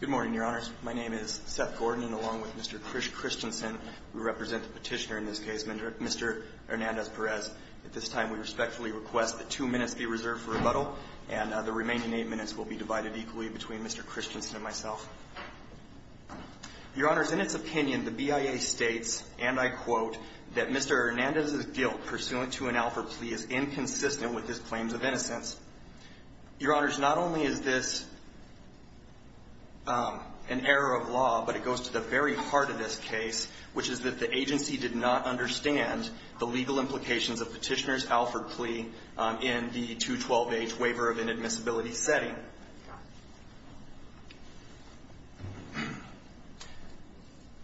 Good morning, Your Honors. My name is Seth Gordon, and along with Mr. Chris Christensen, we represent the petitioner in this case, Mr. Hernandez-Perez. At this time, we respectfully request that two minutes be reserved for rebuttal, and the remaining eight minutes will be divided equally between Mr. Christensen and myself. Your Honors, in its opinion, the BIA states, and I quote, that Mr. Hernandez's guilt pursuant to an Alford plea is inconsistent with his claims of innocence. Your Honors, not only is this an error of law, but it goes to the very heart of this case, which is that the agency did not understand the legal implications of Petitioner's guilt in an admissibility setting.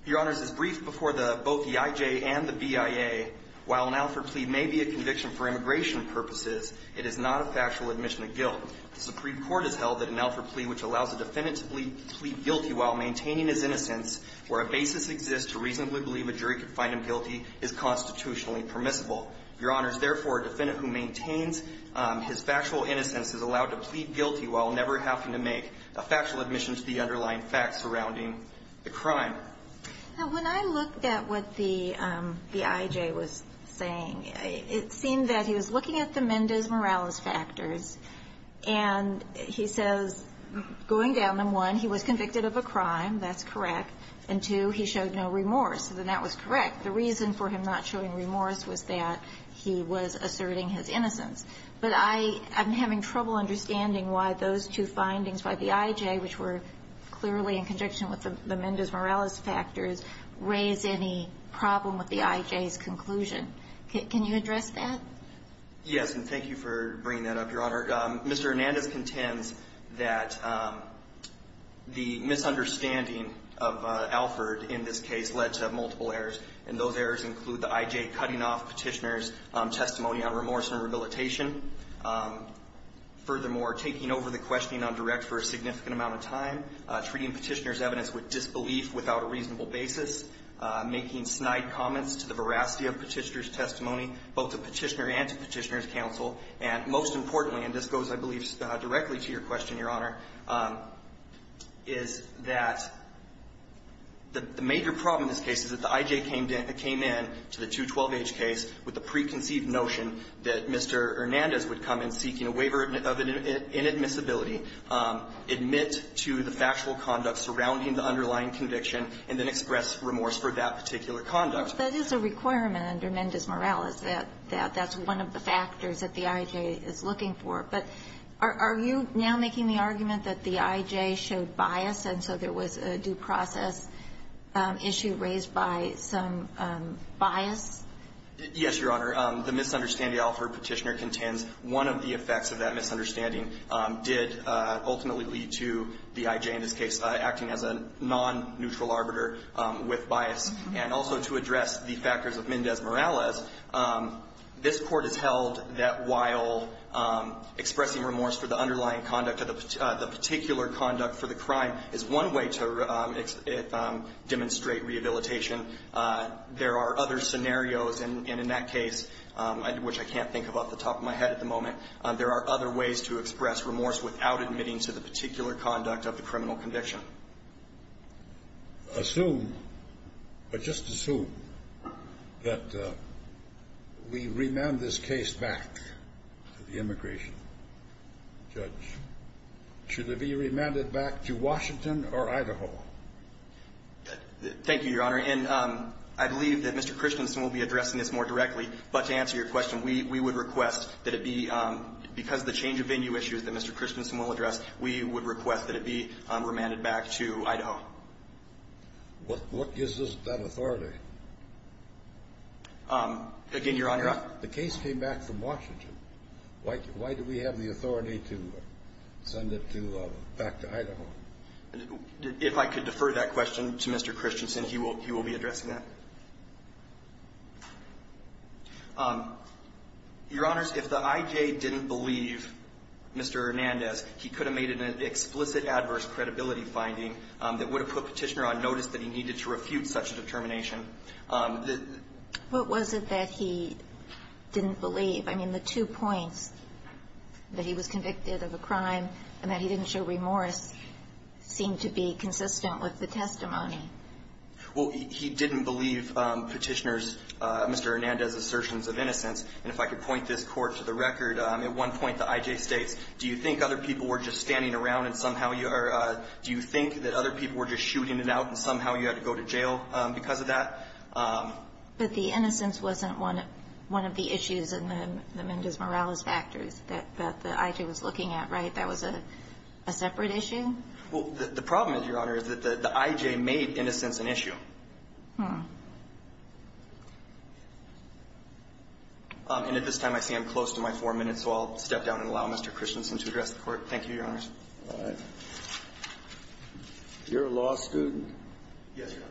Your Honors, as briefed before both the EIJ and the BIA, while an Alford plea may be a conviction for immigration purposes, it is not a factual admission of guilt. The Supreme Court has held that an Alford plea, which allows a defendant to plead guilty while maintaining his innocence, where a basis exists to reasonably believe a jury could find him guilty, is constitutionally permissible. Your Honors, therefore, a defendant who maintains his factual innocence is allowed to plead guilty while never having to make a factual admission to the underlying facts surrounding the crime. Now, when I looked at what the EIJ was saying, it seemed that he was looking at the Mendez-Morales factors, and he says, going down them, one, he was convicted of a crime. That's correct. And, two, he showed no remorse, and that was correct. The reason for him not showing remorse was that he was asserting his innocence. But I'm having trouble understanding why those two findings by the EIJ, which were clearly in conjunction with the Mendez-Morales factors, raise any problem with the EIJ's conclusion. Can you address that? Yes. And thank you for bringing that up, Your Honor. Mr. Hernandez contends that the misunderstanding of Alford in this case led to multiple errors, and those errors include the EIJ cutting off Petitioner's testimony on remorse and rehabilitation, furthermore, taking over the questioning on direct for a significant amount of time, treating Petitioner's evidence with disbelief without a reasonable basis, making snide comments to the veracity of Petitioner's testimony, both to Petitioner and to Petitioner's counsel, and, most importantly, and this goes, I believe, directly to your question, Your Honor, is that the major problem in this case is that the EIJ came in to the 212-H case with the preconceived notion that Mr. Hernandez would come in seeking a waiver of inadmissibility, admit to the factual conduct surrounding the underlying conviction, and then express remorse for that particular conduct. That is a requirement under Mendez-Morales, that that's one of the factors that the EIJ is looking for. But are you now making the argument that the EIJ showed bias, and so there was a due process issue raised by some bias? Yes, Your Honor. The misunderstanding offered Petitioner contends one of the effects of that misunderstanding did ultimately lead to the EIJ, in this case, acting as a non-neutral arbiter with bias. And also to address the factors of Mendez-Morales, this Court has held that while expressing remorse for the underlying conduct of the particular conduct for the crime is one way to demonstrate rehabilitation, there are other scenarios, and in that case, which I can't think of off the top of my head at the moment, there are other ways to express remorse without admitting to the particular conduct of the criminal conviction. Assume, or just assume, that we remand this case back to the immigration judge. Should it be remanded back to Washington or Idaho? Thank you, Your Honor. And I believe that Mr. Christensen will be addressing this more directly, but to answer your question, we would request that it be, because of the change of venue issues that Mr. Christensen will address, we would request that it be remanded back to Idaho. What gives us that authority? Again, Your Honor. The case came back from Washington. Why do we have the authority to send it to the back to Idaho? If I could defer that question to Mr. Christensen, he will be addressing that. Your Honors, if the IJ didn't believe Mr. Hernandez, he could have made an explicit adverse credibility finding that would have put Petitioner on notice that he needed to refute such a determination. What was it that he didn't believe? I mean, the two points, that he was convicted of a crime and that he didn't show remorse, seemed to be consistent with the testimony. Well, he didn't believe Petitioner's, Mr. Hernandez's, assertions of innocence. And if I could point this court to the record, at one point the IJ states, do you think other people were just standing around and somehow you are, do you think that other people were just shooting it out and somehow you had to go to jail because of that? But the innocence wasn't one of the issues in the Mendez-Morales factors that the IJ was looking at, right? That was a separate issue? Well, the problem is, Your Honor, is that the IJ made innocence an issue. And at this time, I see I'm close to my four minutes, so I'll step down and allow Mr. Christensen to address the court. Thank you, Your Honors. All right. You're a law student? Yes, Your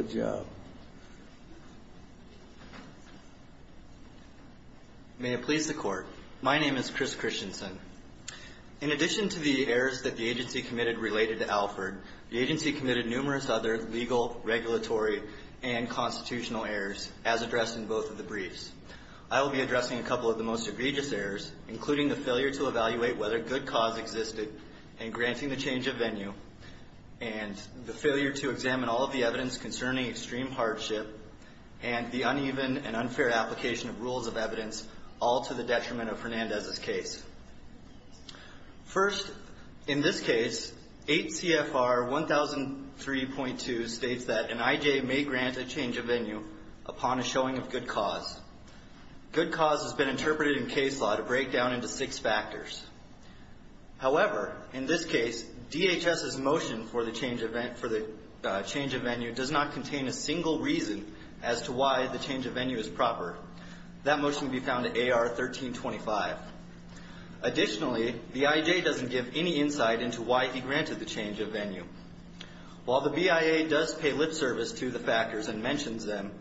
Honor. Good job. May it please the Court. My name is Chris Christensen. In addition to the errors that the agency committed related to Alford, the agency committed numerous other legal, regulatory, and constitutional errors, as addressed in both of the briefs. I will be addressing a couple of the most egregious errors, including the failure to evaluate whether good cause existed, and granting the change of venue, and the failure to examine all of the evidence concerning extreme hardship, and the uneven and unfair application of rules of evidence, all to the detriment of Fernandez's case. First, in this case, 8 CFR 1003.2 states that an IJ may grant a change of venue upon a showing of good cause. Good cause has been interpreted in case law to break down into six factors. However, in this case, DHS's motion for the change of venue does not contain a single reason as to why the change of venue is proper. That motion will be found at AR 1325. Additionally, the IJ doesn't give any insight into why he granted the change of venue. While the BIA does pay lip service to the factors and mentions them,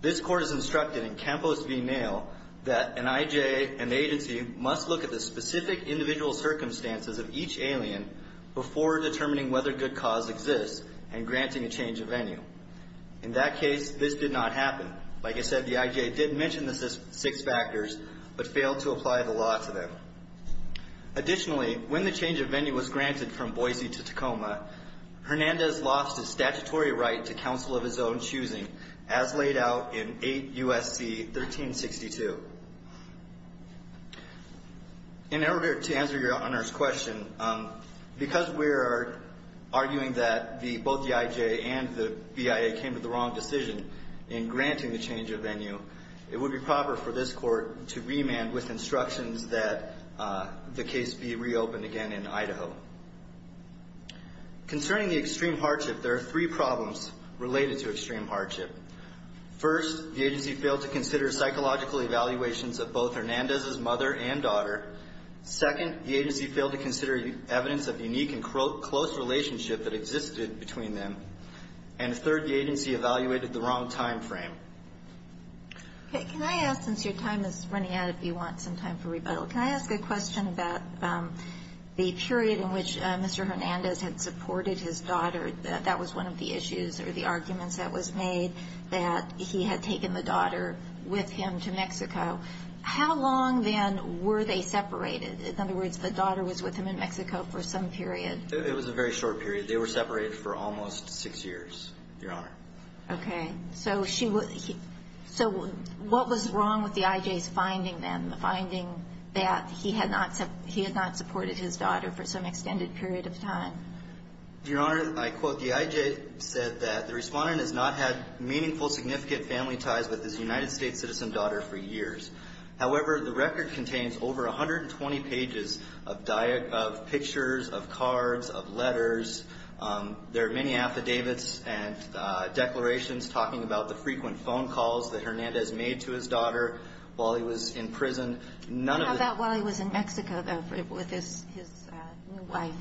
this court is composed to be nailed that an IJ and agency must look at the specific individual circumstances of each alien before determining whether good cause exists and granting a change of venue. In that case, this did not happen. Like I said, the IJ did mention the six factors, but failed to apply the law to them. Additionally, when the change of venue was granted from Boise to Tacoma, Fernandez lost his statutory right to counsel of his own choosing, as laid out in 8 U.S.C. 1362. In order to answer your Honor's question, because we're arguing that both the IJ and the BIA came to the wrong decision in granting the change of venue, it would be proper for this court to remand with instructions that the case be reopened again in Idaho. Concerning the extreme hardship, there are three problems related to extreme hardship. First, the agency failed to consider psychological evaluations of both Hernandez's mother and daughter. Second, the agency failed to consider evidence of unique and close relationship that existed between them. And third, the agency evaluated the wrong time frame. Okay. Can I ask, since your time is running out, if you want some time for rebuttal, can I ask a question about the period in which Mr. Hernandez had supported his daughter? That was one of the issues, or the arguments that was made, that he had taken the daughter with him to Mexico. How long, then, were they separated? In other words, the daughter was with him in Mexico for some period. It was a very short period. They were separated for almost six years, your Honor. Okay. So, what was wrong with the IJ's finding, then, the finding that he had not supported his daughter for some extended period of time? Your Honor, I quote, the IJ said that the respondent has not had meaningful, significant family ties with his United States citizen daughter for years. However, the record contains over 120 pages of pictures, of cards, of letters. There are many affidavits and declarations talking about the frequent phone calls that Hernandez made to his daughter while he was in prison. None of the- How about while he was in Mexico, though, with his new wife?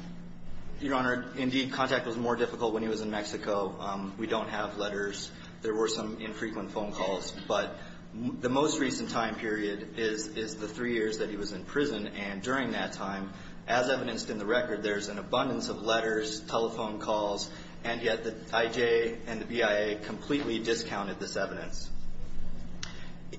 Your Honor, indeed, contact was more difficult when he was in Mexico. We don't have letters. There were some infrequent phone calls. But the most recent time period is the three years that he was in prison, and during that time, as evidenced in the record, there's an abundance of letters, telephone calls, and yet the IJ and the BIA completely discounted this evidence.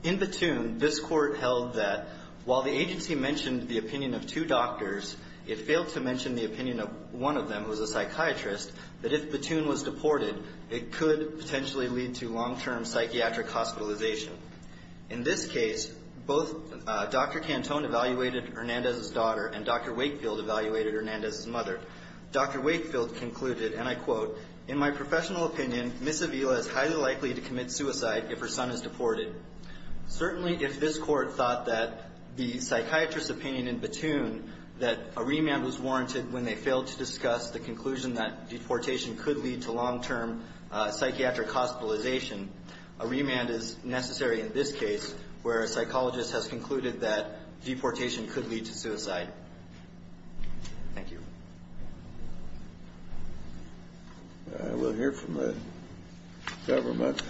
In Baton, this court held that while the agency mentioned the opinion of two doctors, it failed to mention the opinion of one of them, who's a psychiatrist, that if Baton was deported, it could potentially lead to long-term psychiatric hospitalization. In this case, both Dr. Cantone evaluated Hernandez's daughter, and Dr. Wakefield evaluated Hernandez's mother. Dr. Wakefield concluded, and I quote, in my professional opinion, Ms. Avila is highly likely to commit suicide if her son is deported. Certainly, if this court thought that the psychiatrist's opinion in Baton, that a remand was warranted when they failed to discuss the conclusion that deportation could lead to long-term psychiatric hospitalization, a remand is necessary in this case, where a psychologist has concluded that deportation could lead to suicide. Thank you. I will hear from the government.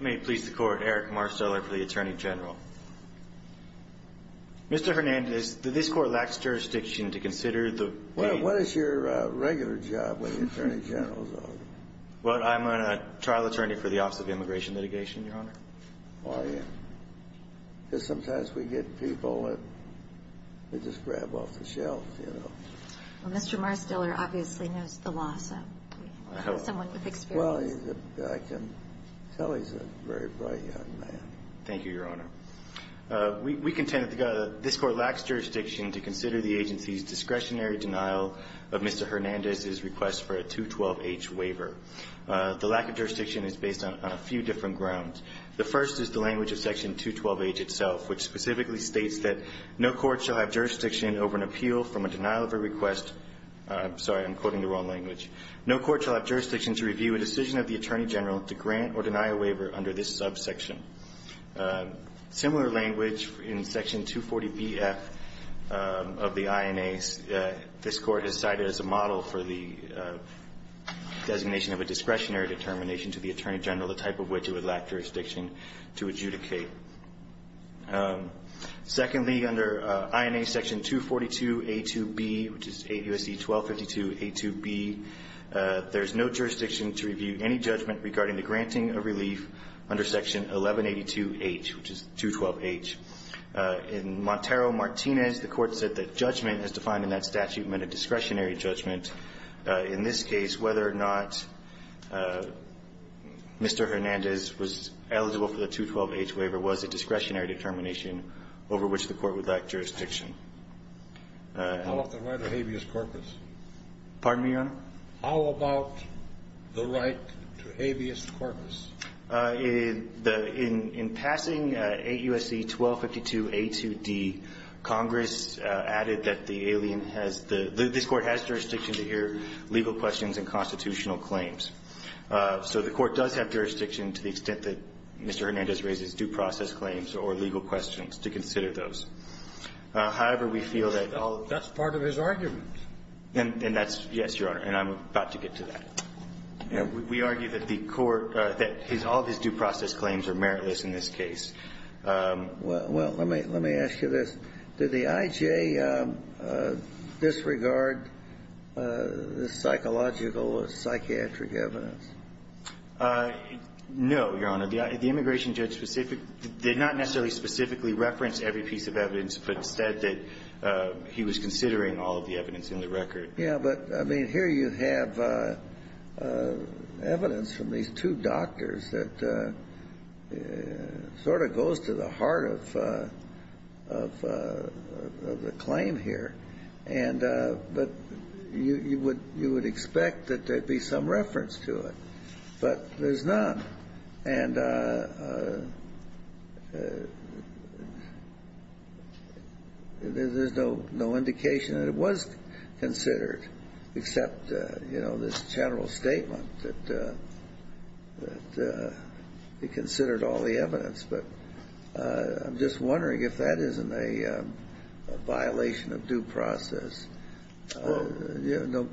May it please the Court. Eric Marsteller for the Attorney General. Mr. Hernandez, this Court lacks jurisdiction to consider the plaintiff's case. Well, I'm a trial attorney for the Office of Immigration Litigation, Your Honor. Why? Because sometimes we get people that we just grab off the shelf, you know. Well, Mr. Marsteller obviously knows the law, so someone with experience. Well, I can tell he's a very bright young man. Thank you, Your Honor. We contend that this Court lacks jurisdiction to consider the agency's discretionary denial of Mr. Hernandez's request for a 212-H waiver. The lack of jurisdiction is based on a few different grounds. The first is the language of Section 212-H itself, which specifically states that no court shall have jurisdiction over an appeal from a denial of a request – I'm sorry, I'm quoting the wrong language – no court shall have jurisdiction to review a decision of the Attorney General to grant or deny a waiver under this subsection. Similar language in Section 240b-F of the INA. This Court has cited as a model for the designation of a discretionary determination to the Attorney General, the type of which it would lack jurisdiction to adjudicate. Secondly, under INA Section 242a-2b, which is 8 U.S.C. 1252a-2b, there is no jurisdiction to review any judgment regarding the granting of relief under Section 1182-H, which is 212-H. In Montero-Martinez, the Court said that judgment as defined in that statute meant a discretionary judgment. In this case, whether or not Mr. Hernandez was eligible for the 212-H waiver was a discretionary determination over which the Court would lack jurisdiction. Pardon me, Your Honor? How about the right to habeas corpus? In the – in passing 8 U.S.C. 1252a-2d, Congress added that the alien has the – this Court has jurisdiction to hear legal questions and constitutional claims. So the Court does have jurisdiction to the extent that Mr. Hernandez raises due process claims or legal questions to consider those. However, we feel that all of the – That's part of his argument. And that's – yes, Your Honor, and I'm about to get to that. We argue that the Court – that his – all of his due process claims are meritless in this case. Well, let me – let me ask you this. Did the I.J. disregard the psychological or psychiatric evidence? No, Your Honor. The immigration judge specific – did not necessarily specifically reference every piece of evidence, but said that he was considering all of the evidence in the record. Yeah, but, I mean, here you have evidence from these two doctors that sort of goes to the heart of – of the claim here, and – but you would – you would expect that there'd be some reference to it, but there's not. And there's no indication that it was considered, except, you know, this general statement that he considered all the evidence. But I'm just wondering if that isn't a violation of due process. Well, you know,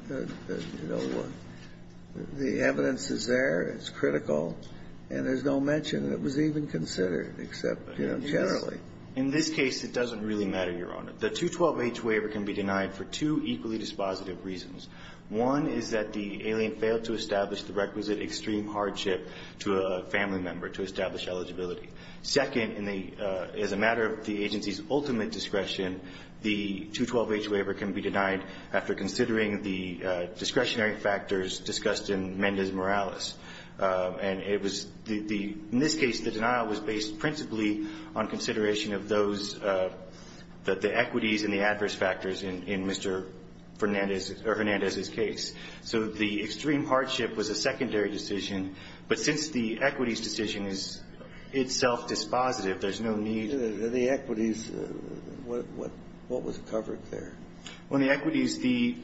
the evidence is there. It's critical. And there's no mention that it was even considered, except, you know, generally. In this case, it doesn't really matter, Your Honor. The 212H waiver can be denied for two equally dispositive reasons. One is that the alien failed to establish the requisite extreme hardship to a family member to establish eligibility. Second, in the – as a matter of the agency's ultimate discretion, the 212H waiver can be denied after considering the discretionary factors discussed in Mendes Morales. And it was the – in this case, the denial was based principally on consideration of those – the equities and the adverse factors in Mr. Fernandez's – or Hernandez's case. So the extreme hardship was a secondary decision. But since the equities decision is itself dispositive, there's no need to – The equities, what – what was covered there? Well, in the equities, the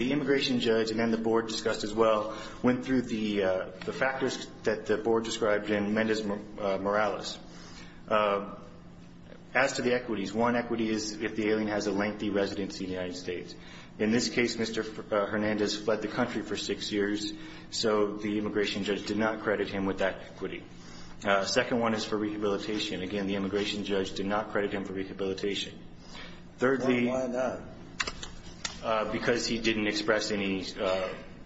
immigration judge and then the board discussed as well went through the factors that the board described in Mendes Morales. As to the equities, one equity is if the alien has a lengthy residency in the United States. In this case, Mr. Hernandez fled the country for six years, so the immigration judge did not credit him with that equity. Second one is for rehabilitation. Again, the immigration judge did not credit him for rehabilitation. Thirdly, because he didn't express any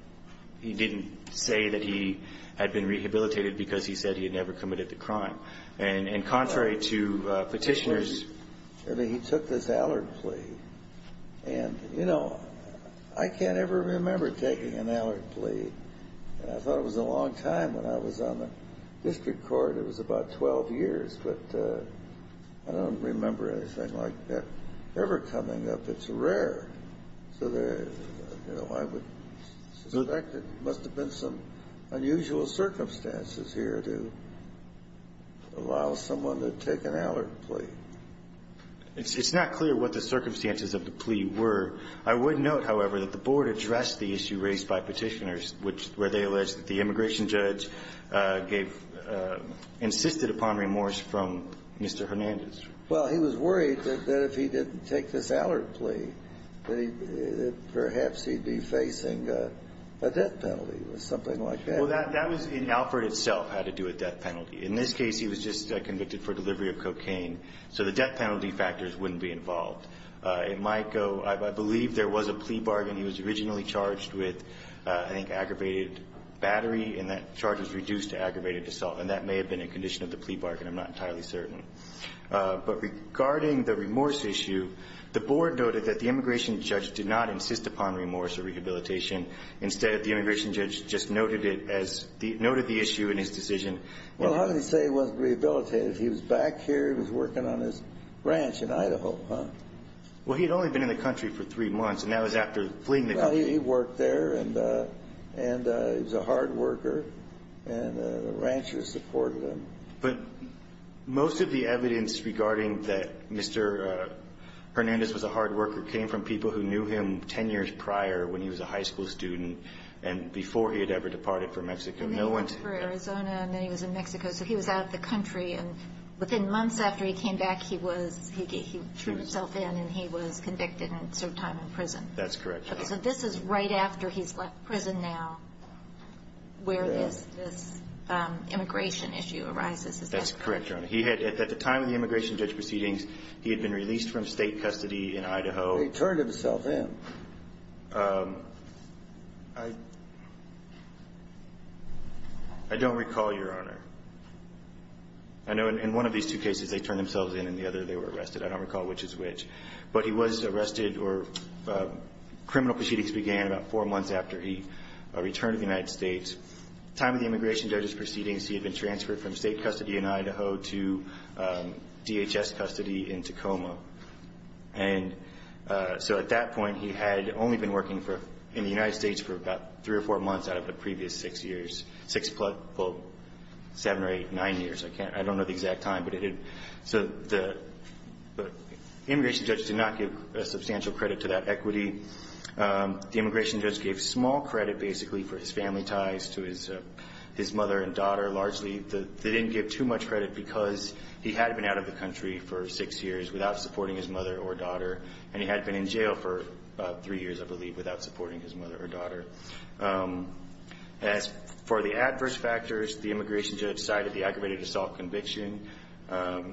– he didn't say that he had been rehabilitated because he said he had never committed the crime. And contrary to petitioners – I mean, he took this Allard plea. And, you know, I can't ever remember taking an Allard plea. And I thought it was a long time when I was on the district court. It was about 12 years. But I don't remember anything like that ever coming up. It's rare. So there – you know, I would suspect it must have been some unusual circumstances here to allow someone to take an Allard plea. It's not clear what the circumstances of the plea were. I would note, however, that the board addressed the issue raised by petitioners, which – where they alleged that the immigration judge gave – insisted upon remorse from Mr. Hernandez. Well, he was worried that if he didn't take this Allard plea that he – that perhaps he'd be facing a death penalty or something like that. Well, that was – and Alfred itself had to do a death penalty. In this case, he was just convicted for delivery of cocaine. So the death penalty factors wouldn't be involved. It might go – I believe there was a plea bargain. He was originally charged with, I think, aggravated battery. And that charge was reduced to aggravated assault. And that may have been a condition of the plea bargain. I'm not entirely certain. But regarding the remorse issue, the board noted that the immigration judge did not insist upon remorse or rehabilitation. Instead, the immigration judge just noted it as – noted the issue in his decision. Well, how did he say he wasn't rehabilitated? He was back here. He was working on his ranch in Idaho, huh? Well, he had only been in the country for three months. And that was after fleeing the country. Well, he worked there. And he was a hard worker. And the ranchers supported him. But most of the evidence regarding that Mr. Hernandez was a hard worker came from people who knew him 10 years prior when he was a high school student and before he had ever departed for Mexico. And then he went for Arizona, and then he was in Mexico. So he was out of the country. And within months after he came back, he was – he drew himself in, and he was convicted and served time in prison. That's correct. So this is right after he's left prison now where this immigration issue arises. Is that correct? That's correct, Your Honor. He had – at the time of the immigration judge proceedings, he had been released from state custody in Idaho. He turned himself in. I don't recall, Your Honor. I know in one of these two cases, they turned themselves in. In the other, they were arrested. I don't recall which is which. But he was arrested or criminal proceedings began about four months after he returned to the United States. At the time of the immigration judge's proceedings, he had been transferred from state custody in Idaho to DHS custody in Tacoma. And so at that point, he had only been working for – in the United States for about three or four months out of the previous six years – six plus – well, seven or eight, nine years. I can't – I don't know the exact time. So the immigration judge did not give a substantial credit to that equity. The immigration judge gave small credit, basically, for his family ties to his mother and daughter, largely. They didn't give too much credit because he had been out of the country for six years without supporting his mother or daughter. And he had been in jail for three years, I believe, without supporting his mother or daughter. As for the adverse factors, the immigration judge cited the aggravated assault conviction,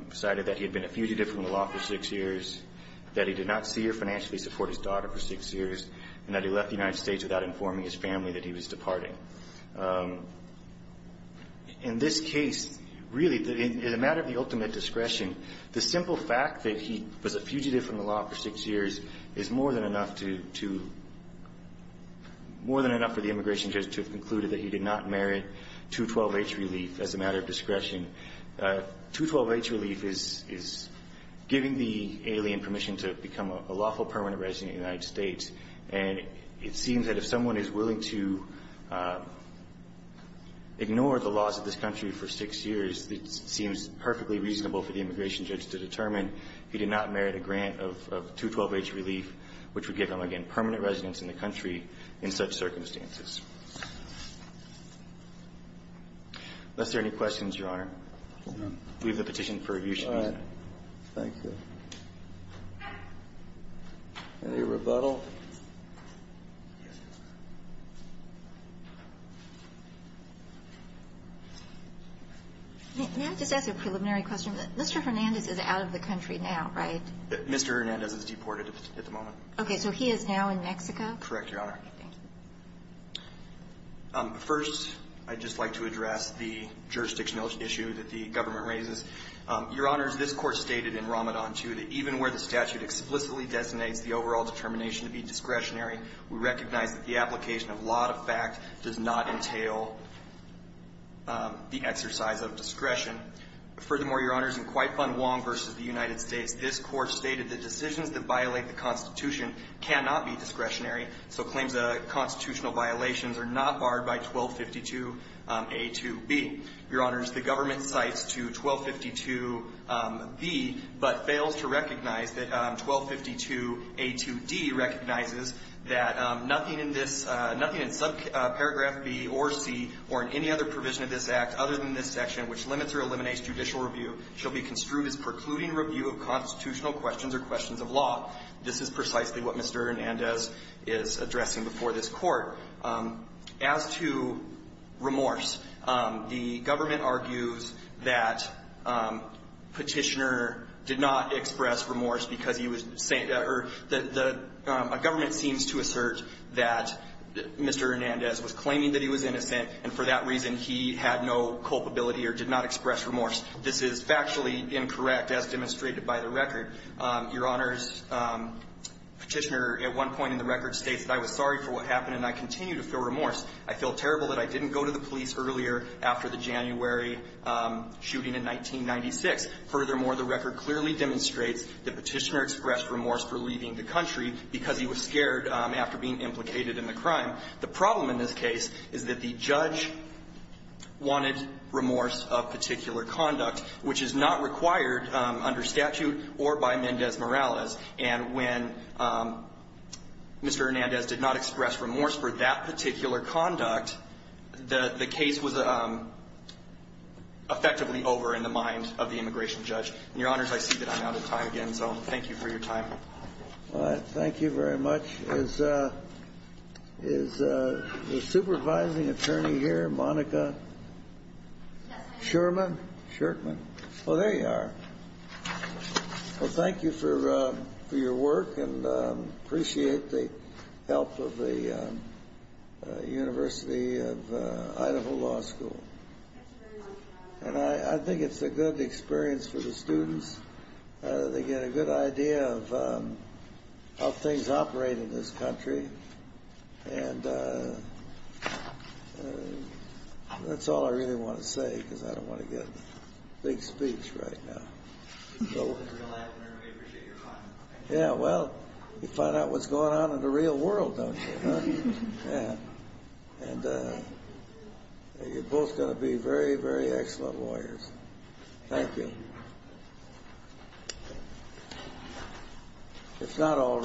cited that he had been a fugitive from the law for six years, that he did not see or financially support his daughter for six years, and that he left the United States without informing his family that he was departing. In this case, really, in a matter of the ultimate discretion, the simple fact that he was a fugitive from the law for six years is more than enough to – more than enough for the immigration judge to have concluded that he did not merit 212H relief as a matter of discretion. 212H relief is giving the alien permission to become a lawful permanent resident in the United States. And it seems that if someone is willing to ignore the laws of this country for six years, it seems perfectly reasonable for the immigration judge to determine he did not merit a grant of 212H relief, which would give him, again, permanent residence in the country in such circumstances. Unless there are any questions, Your Honor, we have a petition for review. All right. Thank you. Any rebuttal? May I just ask a preliminary question? Mr. Hernandez is out of the country now, right? Mr. Hernandez is deported at the moment. Okay. So he is now in Mexico? Correct, Your Honor. Thank you. First, I'd just like to address the jurisdictional issue that the government raises. Your Honors, this Court stated in Ramadan 2 that even where the statute explicitly designates the overall determination to be discretionary, we recognize that the application of law to fact does not entail the exercise of discretion. Furthermore, Your Honors, in Kwai Fun Wong v. cannot be discretionary. So claims of constitutional violations are not barred by 1252a to b. Your Honors, the government cites to 1252b but fails to recognize that 1252a to d recognizes that nothing in this – nothing in subparagraph b or c or in any other provision of this Act other than this section, which limits or eliminates judicial review, shall be construed as precluding review of constitutional questions or questions of law. This is precisely what Mr. Hernandez is addressing before this Court. As to remorse, the government argues that Petitioner did not express remorse because he was – a government seems to assert that Mr. Hernandez was claiming that he was innocent and for that reason he had no culpability or did not express remorse. This is factually incorrect as demonstrated by the record. Your Honors, Petitioner at one point in the record states that I was sorry for what happened and I continue to feel remorse. I feel terrible that I didn't go to the police earlier after the January shooting in 1996. Furthermore, the record clearly demonstrates that Petitioner expressed remorse for leaving the country because he was scared after being implicated in the crime. The problem in this case is that the judge wanted remorse of particular conduct, which is not required under statute or by Mendez-Morales. And when Mr. Hernandez did not express remorse for that particular conduct, the case was effectively over in the mind of the immigration judge. And Your Honors, I see that I'm out of time again, so thank you for your time. All right, thank you very much. Is the supervising attorney here, Monica Shurman? Shurman. Oh, there you are. Well, thank you for your work and appreciate the help of the University of Idaho Law School. And I think it's a good experience for the students. They get a good idea of how things operate in this country. And that's all I really want to say because I don't want to get big speech right now. Yeah, well, you find out what's going on in the real world, don't you? And you're both going to be very, very excellent lawyers. Thank you. It's not all ready.